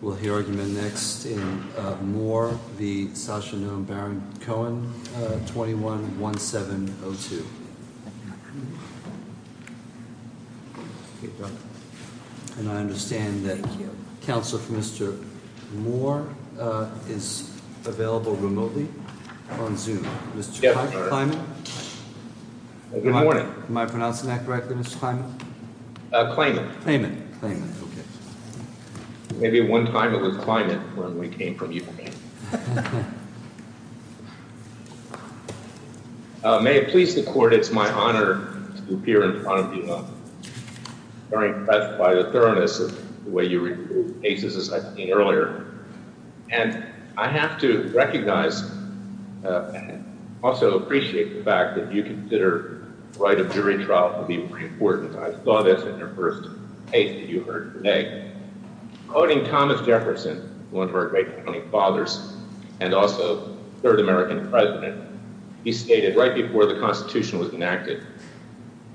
We'll hear argument next in Moore v. Sacha Knoem Baron Cohen, 21-1702. And I understand that counsel for Mr. Moore is available remotely on Zoom. Mr. Kleiman? Good morning. Am I pronouncing that correctly, Mr. Kleiman? Kleiman. Kleiman. Maybe one time it was Kleiman when we came from Ukraine. May it please the court, it's my honor to appear in front of you. I'm very impressed by the thoroughness of the way you recruit cases as I've seen earlier. And I have to recognize and also appreciate the fact that you consider the right of jury trial to be very important. I saw this in your first case that you heard today. Voting Thomas Jefferson, one of our great founding fathers, and also third American president, he stated right before the Constitution was enacted,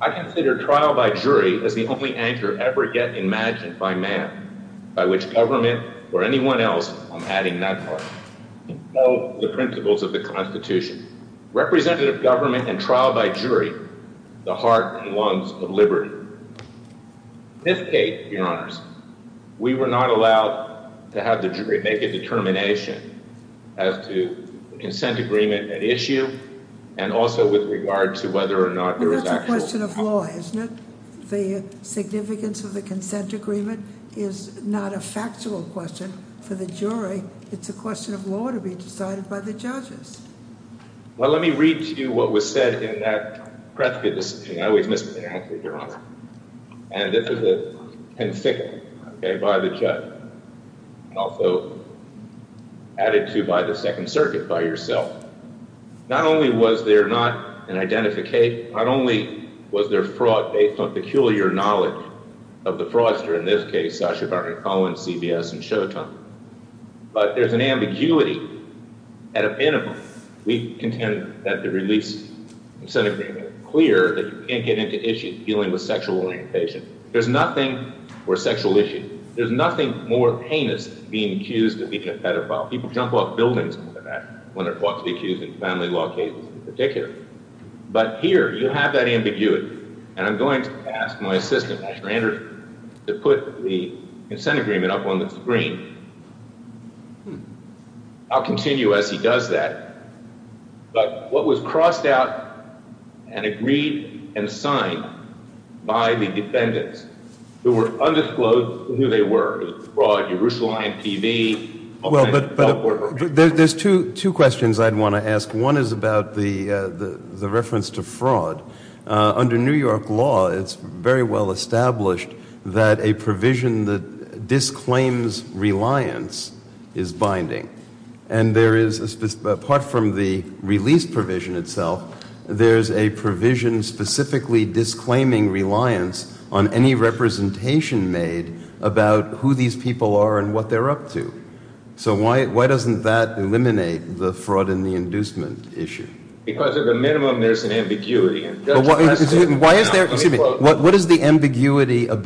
I consider trial by jury as the only anchor ever yet imagined by man, by which government or anyone else, I'm adding that part, can know the principles of the Constitution. Representative government and trial by jury, the heart and lungs of liberty. Fifth case, your honors, we were not allowed to have the jury make a determination as to consent agreement at issue and also with regard to whether or not there was actual... Well, that's a question of law, isn't it? The significance of the consent agreement is not a factual question for the jury. It's a question of law to be decided by the judges. Well, let me read to you what was said in that preppy decision. I always mispronounce it, your honor. And this is a conflict by the judge, also added to by the Second Circuit by yourself. Not only was there not an identification, not only was there fraud based on peculiar knowledge of the fraudster, in this case, Sacha Baron Cohen, CBS, and Showtime, but there's an ambiguity at a minimum. We contend that the release of consent agreement is clear that you can't get into issues dealing with sexual orientation. There's nothing more sexual issue. There's nothing more heinous than being accused of being a pedophile. People jump off buildings when they're caught to be accused in family law cases in particular. But here, you have that ambiguity. And I'm going to ask my assistant, Mr. Andrews, to put the consent agreement up on the screen. I'll continue as he does that. But what was crossed out and agreed and signed by the defendants who were undisclosed who they were, fraud, Yerushalayim TV. Well, but there's two questions I'd want to ask. One is about the reference to fraud. Under New York law, it's very well established that a provision that disclaims reliance is binding. And there is, apart from the release provision itself, there's a provision specifically disclaiming reliance on any representation made about who these people are and what they're up to. So why doesn't that eliminate the fraud and the inducement issue? Because at the minimum, there's an ambiguity. Excuse me. What is the ambiguity on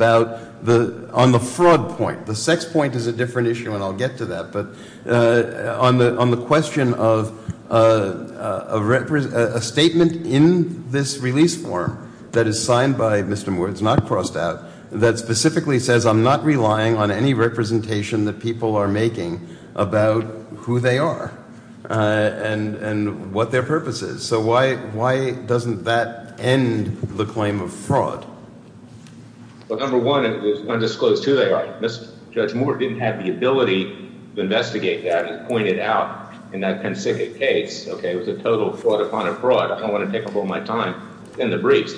the fraud point? The sex point is a different issue, and I'll get to that. But on the question of a statement in this release form that is signed by Mr. Moore, it's not crossed out, that specifically says I'm not relying on any representation that people are making about who they are and what their purpose is. So why doesn't that end the claim of fraud? Well, number one, it was undisclosed who they are. Judge Moore didn't have the ability to investigate that, as pointed out in that Penn-Sicket case. Okay, it was a total fraud upon a fraud. I don't want to take up all my time in the briefs.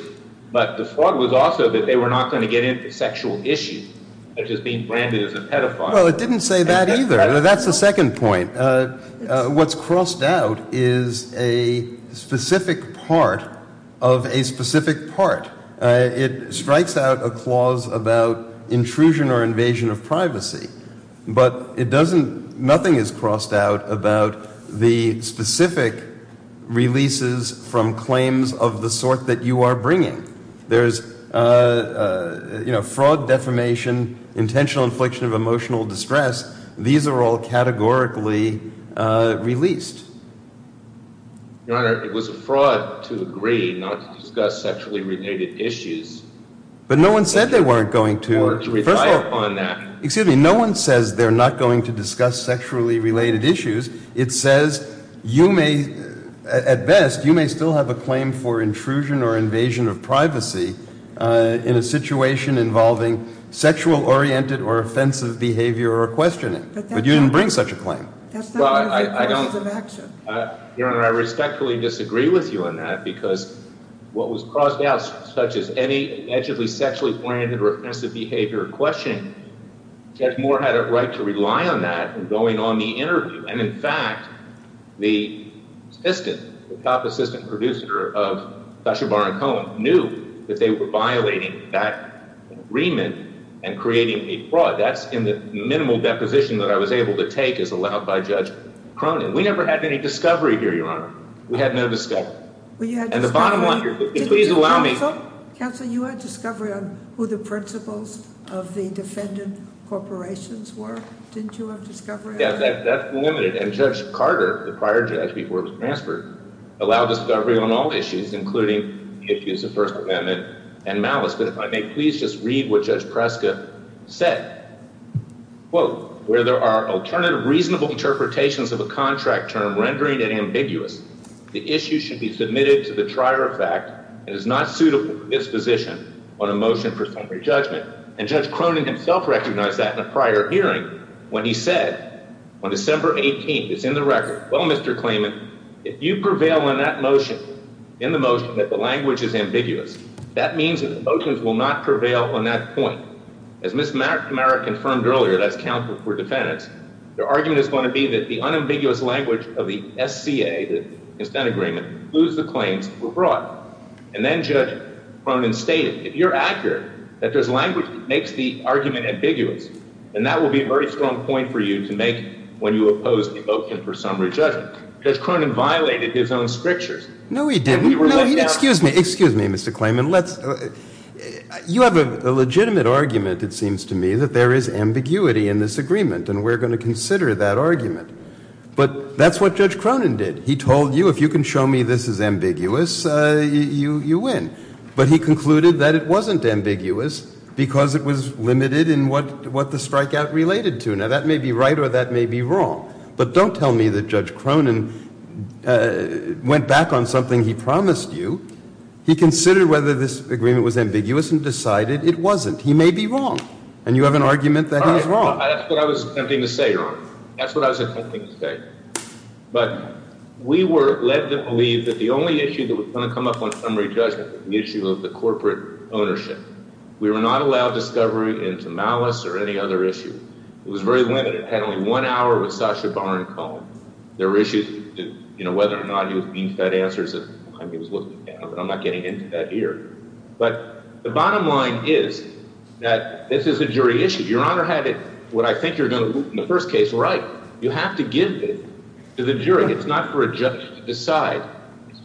But the fraud was also that they were not going to get into sexual issues, such as being branded as a pedophile. Well, it didn't say that either. That's the second point. What's crossed out is a specific part of a specific part. It strikes out a clause about intrusion or invasion of privacy, but nothing is crossed out about the specific releases from claims of the sort that you are bringing. There's fraud, defamation, intentional infliction of emotional distress. These are all categorically released. Your Honor, it was a fraud to agree not to discuss sexually related issues. But no one said they weren't going to. First of all, no one says they're not going to discuss sexually related issues. It says you may, at best, you may still have a claim for intrusion or invasion of privacy in a situation involving sexual-oriented or offensive behavior or questioning. But you didn't bring such a claim. Your Honor, I respectfully disagree with you on that, because what was crossed out, such as any allegedly sexually-oriented or offensive behavior or questioning, Judge Moore had a right to rely on that in going on the interview. And, in fact, the assistant, the top assistant producer of Cachabar and Cohen, knew that they were violating that agreement and creating a fraud. That's in the minimal deposition that I was able to take as allowed by Judge Cronin. We never had any discovery here, Your Honor. We had no discovery. And the bottom line here, please allow me. Counsel, you had discovery on who the principals of the defendant corporations were. Didn't you have discovery on that? That's limited. And Judge Carter, the prior judge before he was transferred, allowed discovery on all issues, including issues of First Amendment and malice. But if I may, please just read what Judge Preska said. Quote, where there are alternative reasonable interpretations of a contract term, rendering it ambiguous, the issue should be submitted to the trier of fact and is not suitable for disposition on a motion for summary judgment. And Judge Cronin himself recognized that in a prior hearing when he said on December 18th, it's in the record, well, Mr. Klayman, if you prevail on that motion, in the motion that the language is ambiguous, that means that the motions will not prevail on that point. As Ms. Merritt confirmed earlier, that's counsel for defendants, their argument is going to be that the unambiguous language of the SCA, the consent agreement, includes the claims that were brought. And then Judge Cronin stated, if you're accurate, that there's language that makes the argument ambiguous, then that will be a very strong point for you to make when you oppose the motion for summary judgment. Judge Cronin violated his own scriptures. No, he didn't. No, he didn't. Excuse me. Excuse me, Mr. Klayman. You have a legitimate argument, it seems to me, that there is ambiguity in this agreement, and we're going to consider that argument. But that's what Judge Cronin did. He told you, if you can show me this is ambiguous, you win. But he concluded that it wasn't ambiguous because it was limited in what the strikeout related to. Now, that may be right or that may be wrong. But don't tell me that Judge Cronin went back on something he promised you. He considered whether this agreement was ambiguous and decided it wasn't. He may be wrong, and you have an argument that he's wrong. That's what I was attempting to say. That's what I was attempting to say. But we led them to believe that the only issue that was going to come up on summary judgment was the issue of the corporate ownership. We were not allowed discovery into malice or any other issue. It was very limited. It had only one hour with Sacha Baron Cohen. There were issues as to whether or not he was being fed answers. I mean, he was looking down, but I'm not getting into that here. But the bottom line is that this is a jury issue. Your Honor had what I think you're going to in the first case right. You have to give it to the jury. It's not for a judge to decide.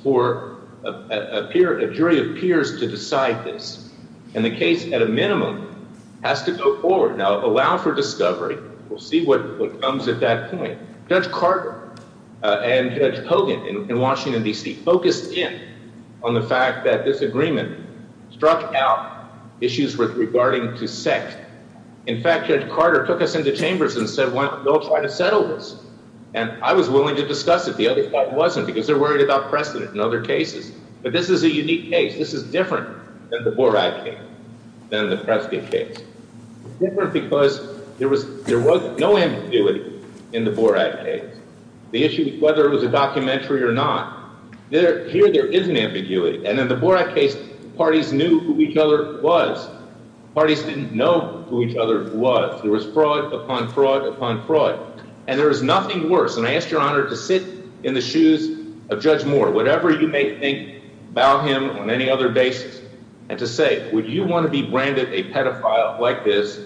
A jury appears to decide this. And the case, at a minimum, has to go forward. Now, allow for discovery. We'll see what comes at that point. Judge Carter and Judge Hogan in Washington, D.C., focused in on the fact that this agreement struck out issues regarding to sex. In fact, Judge Carter took us into chambers and said, well, they'll try to settle this. And I was willing to discuss it. The other part wasn't because they're worried about precedent in other cases. But this is a unique case. This is different than the Borat case, than the Prescott case. It's different because there was no ambiguity in the Borat case. The issue, whether it was a documentary or not, here there is an ambiguity. And in the Borat case, parties knew who each other was. Parties didn't know who each other was. There was fraud upon fraud upon fraud. And there was nothing worse. And I asked Your Honor to sit in the shoes of Judge Moore, whatever you may think about him on any other basis, and to say, would you want to be branded a pedophile like this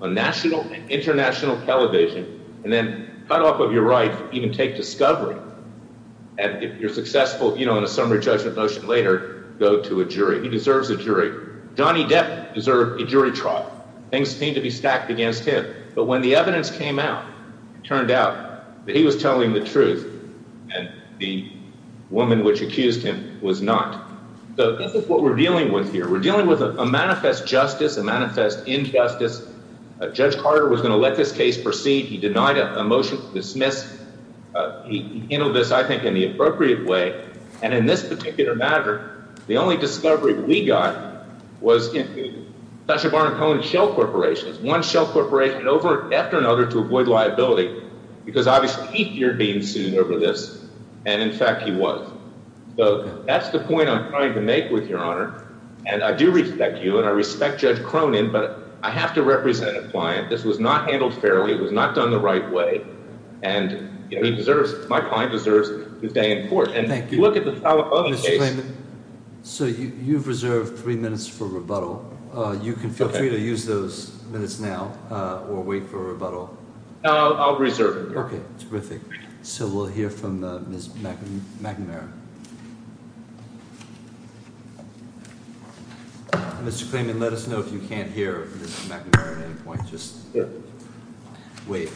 on national and international television, and then cut off of your right to even take discovery, and if you're successful, you know, in a summary judgment motion later, go to a jury. He deserves a jury. Johnny Depp deserved a jury trial. Things seemed to be stacked against him. But when the evidence came out, it turned out that he was telling the truth, and the woman which accused him was not. So this is what we're dealing with here. We're dealing with a manifest justice, a manifest injustice. Judge Carter was going to let this case proceed. He denied a motion to dismiss. He handled this, I think, in the appropriate way. And in this particular matter, the only discovery we got was in Tasha Barnum Cohen's shell corporations, one shell corporation after another to avoid liability, because obviously he feared being sued over this, and, in fact, he was. So that's the point I'm trying to make with Your Honor. And I do respect you, and I respect Judge Cronin, but I have to represent a client. This was not handled fairly. It was not done the right way. And my client deserves his day in court. Thank you. Mr. Clayman, so you've reserved three minutes for rebuttal. You can feel free to use those minutes now or wait for a rebuttal. No, I'll reserve it. Okay, terrific. So we'll hear from Ms. McNamara. Mr. Clayman, let us know if you can't hear Ms. McNamara at any point. Just wait.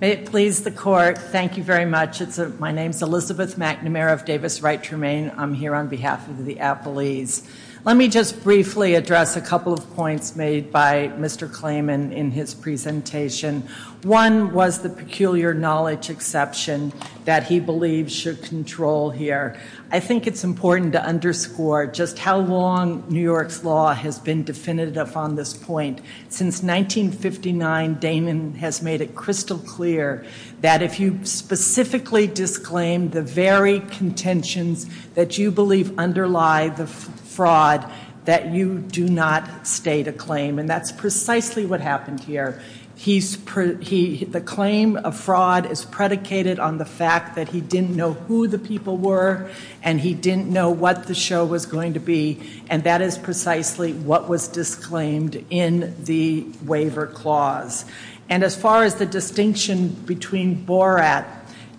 May it please the Court, thank you very much. My name is Elizabeth McNamara of Davis Wright Tremaine. I'm here on behalf of the appellees. Let me just briefly address a couple of points made by Mr. Clayman in his presentation. One was the peculiar knowledge exception that he believes should control here. I think it's important to underscore just how long New York's law has been definitive on this point. Since 1959, Damon has made it crystal clear that if you specifically disclaim the very contentions that you believe underlie the fraud, that you do not state a claim. And that's precisely what happened here. The claim of fraud is predicated on the fact that he didn't know who the people were and he didn't know what the show was going to be. And that is precisely what was disclaimed in the waiver clause. And as far as the distinction between Borat,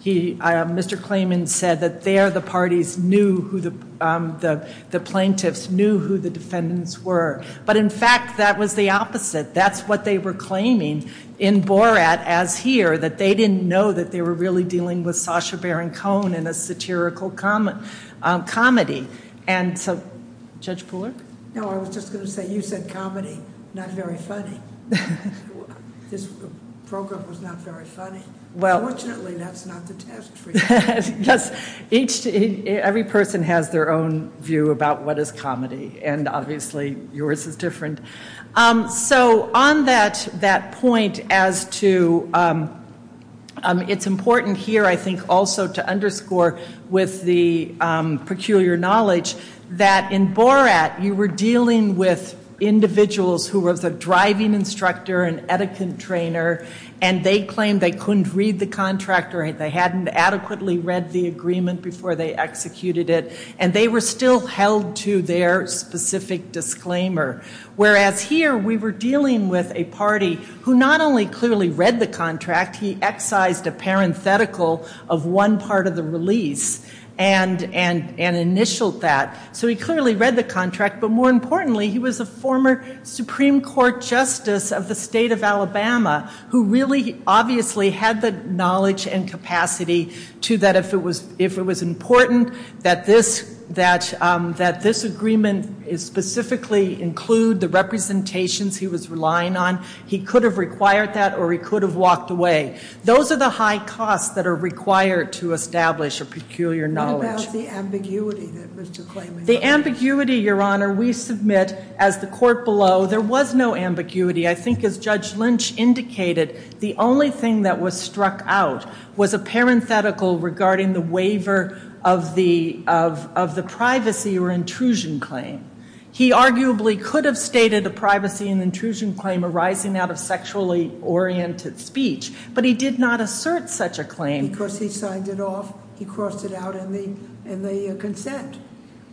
Mr. Clayman said that there the parties knew who the plaintiffs knew who the defendants were. But in fact, that was the opposite. That's what they were claiming in Borat as here, that they didn't know that they were really dealing with Sacha Baron Cohen in a satirical comedy. Judge Pooler? No, I was just going to say you said comedy, not very funny. This program was not very funny. Fortunately, that's not the test for you. Yes, every person has their own view about what is comedy. And obviously, yours is different. So on that point as to it's important here I think also to underscore with the peculiar knowledge that in Borat you were dealing with individuals who were the driving instructor and etiquette trainer and they claimed they couldn't read the contract or they hadn't adequately read the agreement before they executed it. And they were still held to their specific disclaimer. Whereas here, we were dealing with a party who not only clearly read the contract, he excised a parenthetical of one part of the release and initialed that. So he clearly read the contract, but more importantly, he was a former Supreme Court Justice of the state of Alabama who really obviously had the knowledge and capacity to that if it was important that this agreement specifically include the representations he was relying on, he could have required that or he could have walked away. Those are the high costs that are required to establish a peculiar knowledge. What about the ambiguity that Mr. Klayman had? The ambiguity, Your Honor, we submit as the court below, there was no ambiguity. I think as Judge Lynch indicated, the only thing that was struck out was a parenthetical regarding the waiver of the privacy or intrusion claim. He arguably could have stated a privacy and intrusion claim arising out of sexually oriented speech, but he did not assert such a claim. Because he signed it off, he crossed it out in the consent.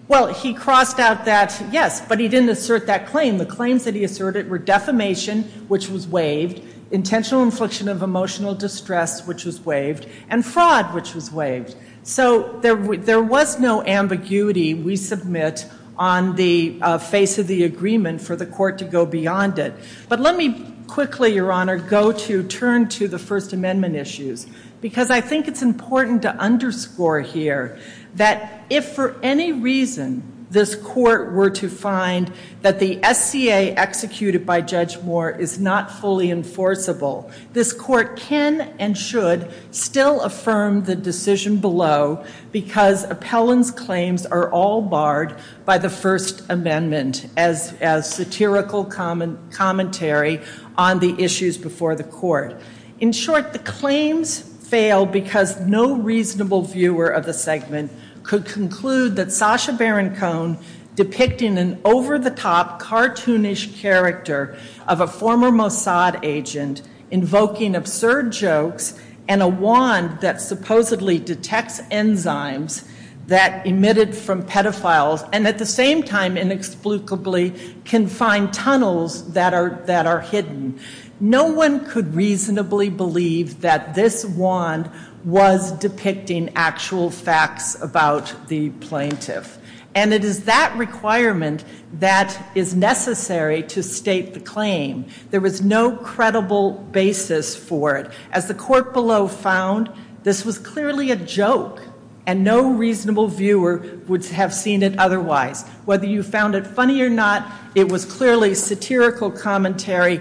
Well, he crossed out that, yes, but he didn't assert that claim. The claims that he asserted were defamation, which was waived, intentional infliction of emotional distress, which was waived, and fraud, which was waived. So there was no ambiguity we submit on the face of the agreement for the court to go beyond it. But let me quickly, Your Honor, go to turn to the First Amendment issues because I think it's important to underscore here that if for any reason this court were to find that the SCA executed by Judge Moore is not fully enforceable, this court can and should still affirm the decision below because Appellant's claims are all barred by the First Amendment as satirical commentary on the issues before the court. In short, the claims fail because no reasonable viewer of the segment could conclude that Sacha Baron Cohen depicting an over-the-top cartoonish character of a former Mossad agent invoking absurd jokes and a wand that supposedly detects enzymes that emitted from pedophiles and at the same time inexplicably can find tunnels that are hidden. No one could reasonably believe that this wand was depicting actual facts about the plaintiff. And it is that requirement that is necessary to state the claim. There was no credible basis for it. As the court below found, this was clearly a joke and no reasonable viewer would have seen it otherwise. Whether you found it funny or not, it was clearly satirical commentary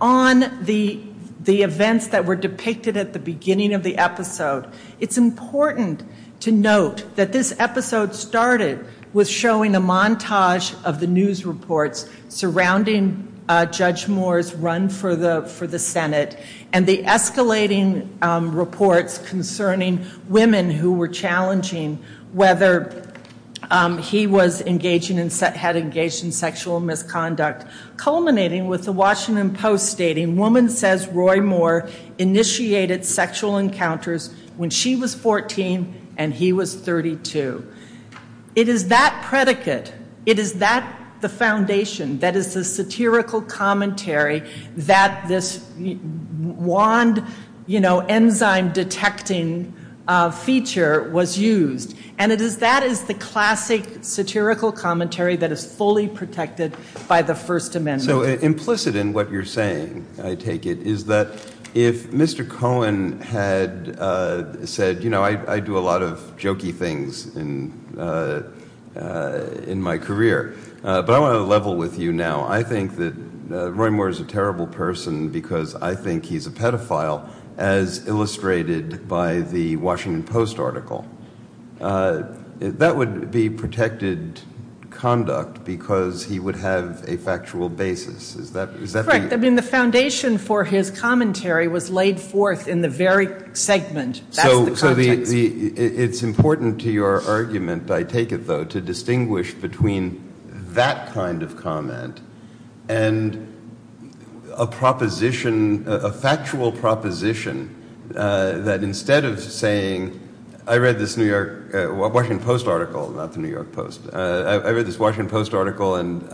on the events that were depicted at the beginning of the episode. It's important to note that this episode started with showing a montage of the news reports surrounding Judge Moore's run for the Senate and the escalating reports concerning women who were challenging whether he had engaged in sexual misconduct, culminating with the Washington Post stating, woman says Roy Moore initiated sexual encounters when she was 14 and he was 32. It is that predicate, it is that the foundation, that is the satirical commentary that this wand enzyme detecting feature was used. And that is the classic satirical commentary that is fully protected by the First Amendment. So implicit in what you're saying, I take it, is that if Mr. Cohen had said, you know, I do a lot of jokey things in my career, but I want to level with you now. I think that Roy Moore is a terrible person because I think he's a pedophile as illustrated by the Washington Post article. That would be protected conduct because he would have a factual basis. Is that correct? I mean the foundation for his commentary was laid forth in the very segment. So it's important to your argument, I take it, though, to distinguish between that kind of comment and a proposition, a factual proposition, that instead of saying, I read this New York, Washington Post article, not the New York Post. I read this Washington Post article and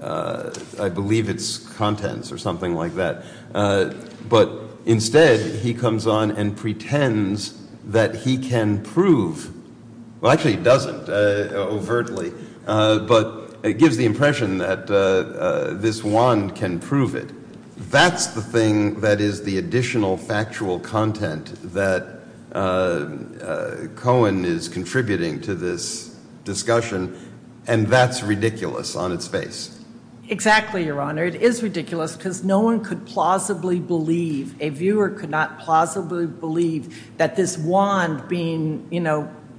I believe its contents or something like that. But instead he comes on and pretends that he can prove. Well, actually he doesn't overtly, but it gives the impression that this wand can prove it. That's the thing that is the additional factual content that Cohen is contributing to this discussion, and that's ridiculous on its face. Exactly, Your Honor. It is ridiculous because no one could plausibly believe, a viewer could not plausibly believe, that this wand being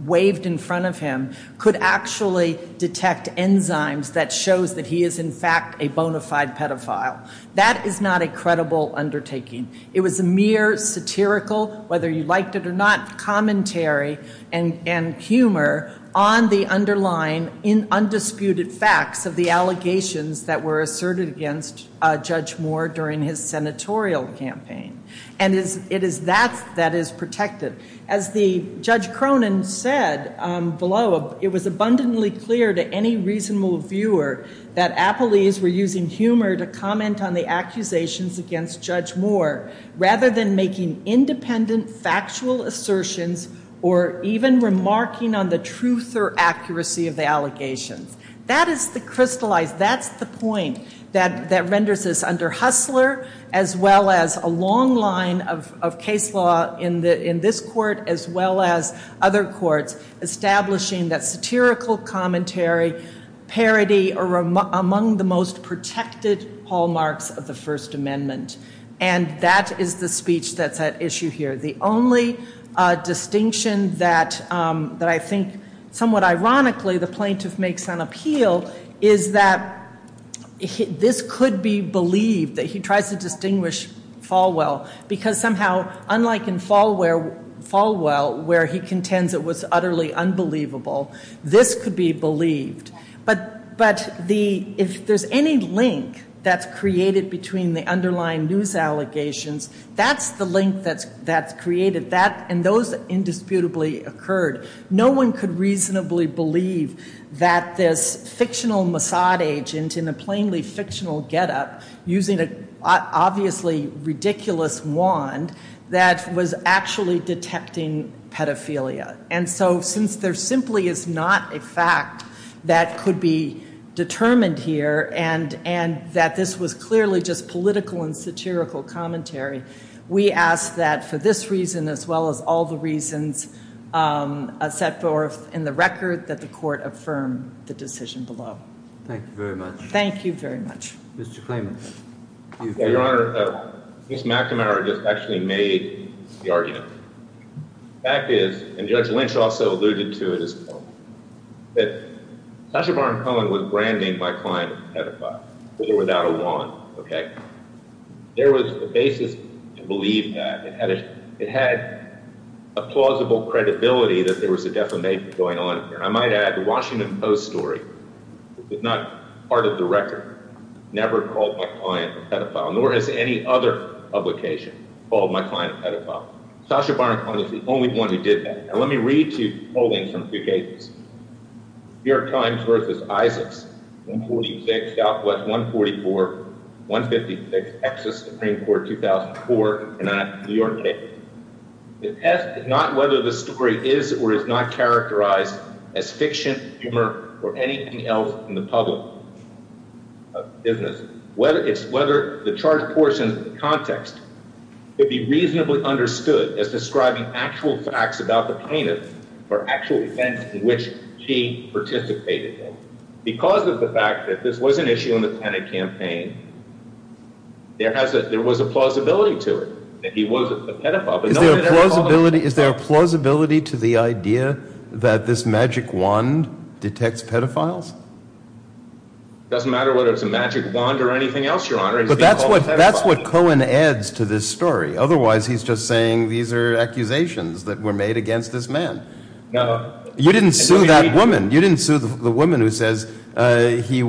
waved in front of him could actually detect enzymes that shows that he is in fact a bona fide pedophile. That is not a credible undertaking. It was a mere satirical, whether you liked it or not, commentary and humor on the underlying undisputed facts of the allegations that were asserted against Judge Moore during his senatorial campaign. And it is that that is protected. As Judge Cronin said below, it was abundantly clear to any reasonable viewer that appellees were using humor to comment on the accusations against Judge Moore rather than making independent factual assertions or even remarking on the truth or accuracy of the allegations. That is the crystallized, that's the point that renders this under Hustler as well as a long line of case law in this court as well as other courts establishing that satirical commentary, parody, are among the most protected hallmarks of the First Amendment. And that is the speech that's at issue here. The only distinction that I think somewhat ironically the plaintiff makes on appeal is that this could be believed, that he tries to distinguish Falwell because somehow unlike in Falwell where he contends it was utterly unbelievable, this could be believed. But if there's any link that's created between the underlying news allegations, that's the link that's created and those indisputably occurred. No one could reasonably believe that this fictional Mossad agent in a plainly fictional getup using an obviously ridiculous wand that was actually detecting pedophilia. And so since there simply is not a fact that could be determined here and that this was clearly just political and satirical commentary, we ask that for this reason as well as all the reasons set forth in the record that the court affirm the decision below. Thank you very much. Thank you very much. Mr. Klayman. Your Honor, Ms. McNamara just actually made the argument. The fact is, and Judge Lynch also alluded to it as well, that Sacha Baron Cohen was branding my client as a pedophile, with or without a wand. There was a basis to believe that. It had a plausible credibility that there was a defamation going on here. I might add the Washington Post story, which is not part of the record, never called my client a pedophile, nor has any other publication called my client a pedophile. Sacha Baron Cohen was the only one who did that. And let me read to you polling from two cases. New York Times versus Isaacs, 146 Southwest, 144, 156, Texas Supreme Court, 2004, New York Daily. The test is not whether the story is or is not characterized as fiction, humor, or anything else in the public business. It's whether the charged portion of the context could be reasonably understood as describing actual facts about the plaintiff or actual events in which she participated in. Because of the fact that this was an issue in the Pennant campaign, there was a plausibility to it that he was a pedophile. Is there a plausibility to the idea that this magic wand detects pedophiles? It doesn't matter whether it's a magic wand or anything else, Your Honor. He's being called a pedophile. But that's what Cohen adds to this story. Otherwise, he's just saying these are accusations that were made against this man. No. You didn't sue that woman. You didn't sue the woman who says he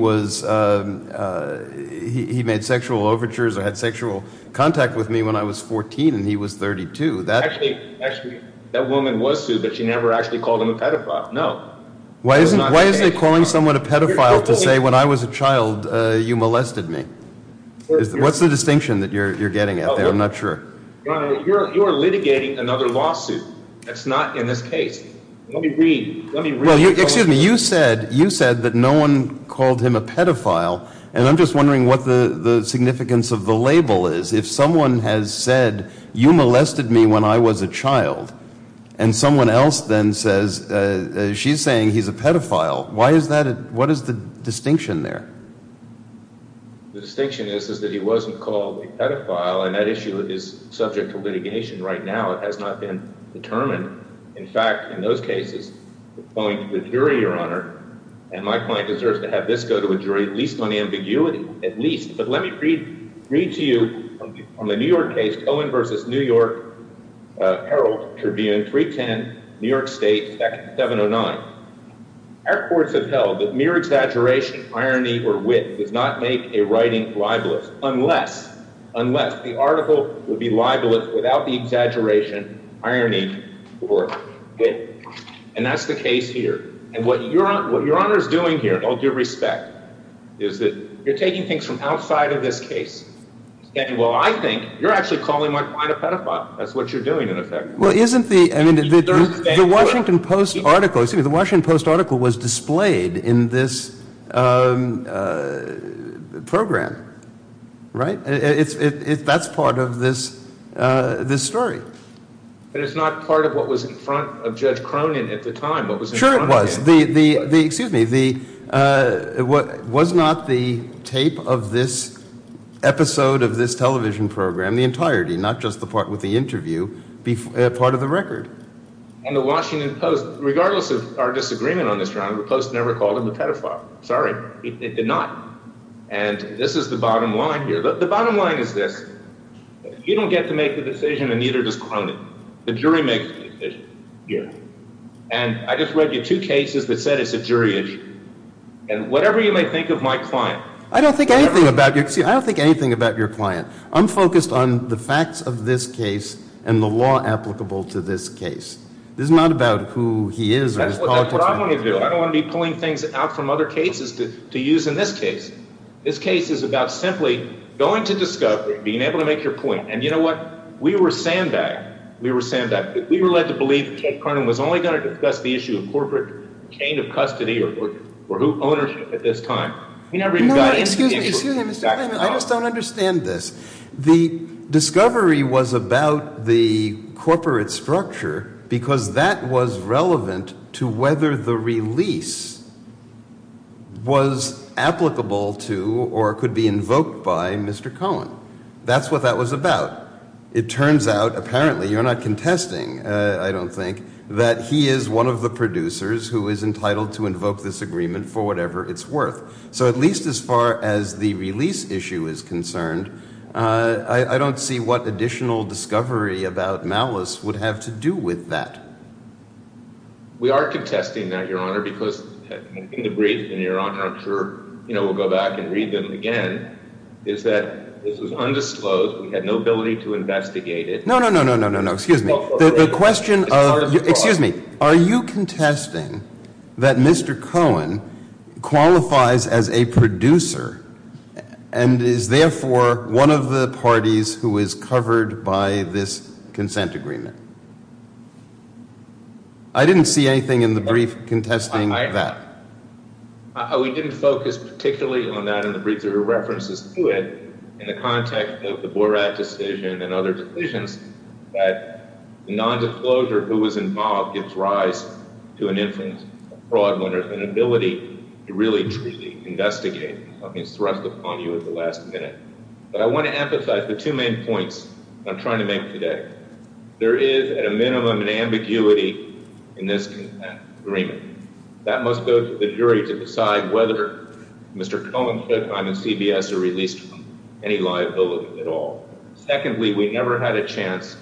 made sexual overtures or had sexual contact with me when I was 14 and he was 32. Actually, that woman was sued, but she never actually called him a pedophile. No. Why is he calling someone a pedophile to say when I was a child you molested me? What's the distinction that you're getting at there? I'm not sure. Your Honor, you are litigating another lawsuit. That's not in this case. Let me read. Excuse me. You said that no one called him a pedophile, and I'm just wondering what the significance of the label is. If someone has said you molested me when I was a child and someone else then says she's saying he's a pedophile, what is the distinction there? The distinction is that he wasn't called a pedophile, and that issue is subject to litigation right now. It has not been determined. In fact, in those cases, the point of the jury, Your Honor, and my point deserves to have this go to a jury at least on ambiguity, at least. But let me read to you from the New York case, Owen v. New York Herald Tribune, 310 New York State, 709. Our courts have held that mere exaggeration, irony, or wit does not make a writing libelous unless the article would be libelous without the exaggeration, irony, or wit. And that's the case here. And what Your Honor is doing here, and I'll give respect, is that you're taking things from outside of this case. Well, I think you're actually calling my client a pedophile. That's what you're doing in effect. Well, isn't the Washington Post article, excuse me, the Washington Post article was displayed in this program, right? That's part of this story. But it's not part of what was in front of Judge Cronin at the time. Sure it was. Excuse me. Was not the tape of this episode of this television program, the entirety, not just the part with the interview, part of the record? And the Washington Post, regardless of our disagreement on this, Your Honor, the Post never called him a pedophile. Sorry, it did not. And this is the bottom line here. The bottom line is this. You don't get to make the decision, and neither does Cronin. The jury makes the decision. And I just read you two cases that said it's a jury issue. And whatever you may think of my client. I don't think anything about your client. I'm focused on the facts of this case and the law applicable to this case. This is not about who he is or his politics. That's what I want to do. I don't want to be pulling things out from other cases to use in this case. This case is about simply going to discovery, being able to make your point. And you know what? We were sandbagged. We were sandbagged. We were led to believe that Ted Cronin was only going to discuss the issue of corporate chain of custody or ownership at this time. He never even got into the issue. I just don't understand this. The discovery was about the corporate structure because that was relevant to whether the release was applicable to or could be invoked by Mr. Cohen. That's what that was about. It turns out, apparently, you're not contesting, I don't think, that he is one of the producers who is entitled to invoke this agreement for whatever it's worth. So at least as far as the release issue is concerned, I don't see what additional discovery about malice would have to do with that. We are contesting that, Your Honor, because in the brief, and, Your Honor, I'm sure we'll go back and read them again, is that this was undisclosed. We had no ability to investigate it. No, no, no, no, no, no. Excuse me. The question of, excuse me. Are you contesting that Mr. Cohen qualifies as a producer and is, therefore, one of the parties who is covered by this consent agreement? I didn't see anything in the brief contesting that. We didn't focus particularly on that in the brief. I'm sure there are references to it in the context of the Borat decision and other decisions that the nondisclosure, who was involved, gives rise to an influence, a fraud winner, an ability to really, truly investigate something thrust upon you at the last minute. But I want to emphasize the two main points I'm trying to make today. There is, at a minimum, an ambiguity in this agreement. That must go to the jury to decide whether Mr. Cohen, if I'm in CBS, are released from any liability at all. Secondly, we never had a chance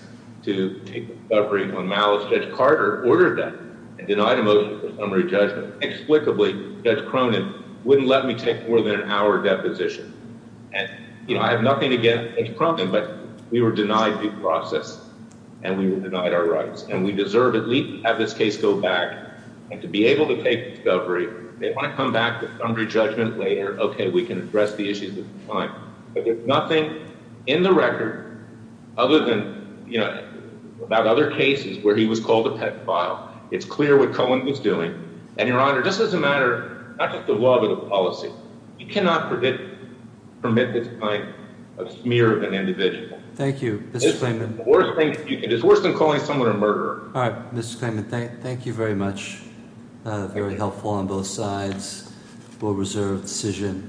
to take a recovery on malice. Judge Carter ordered that and denied a motion for summary judgment. Explicably, Judge Cronin wouldn't let me take more than an hour deposition. And, you know, I have nothing against Judge Cronin, but we were denied due process and we were denied our rights. And we deserve at least to have this case go back and to be able to take discovery. They want to come back to summary judgment later. Okay, we can address the issues at the time. But there's nothing in the record other than, you know, about other cases where he was called a pedophile. It's clear what Cohen was doing. And, Your Honor, this is a matter not just of law but of policy. You cannot permit this kind of smear of an individual. Thank you, Mr. Freeman. It's worse than calling someone a murderer. All right, Mr. Freeman, thank you very much. Very helpful on both sides. Board reserved decision.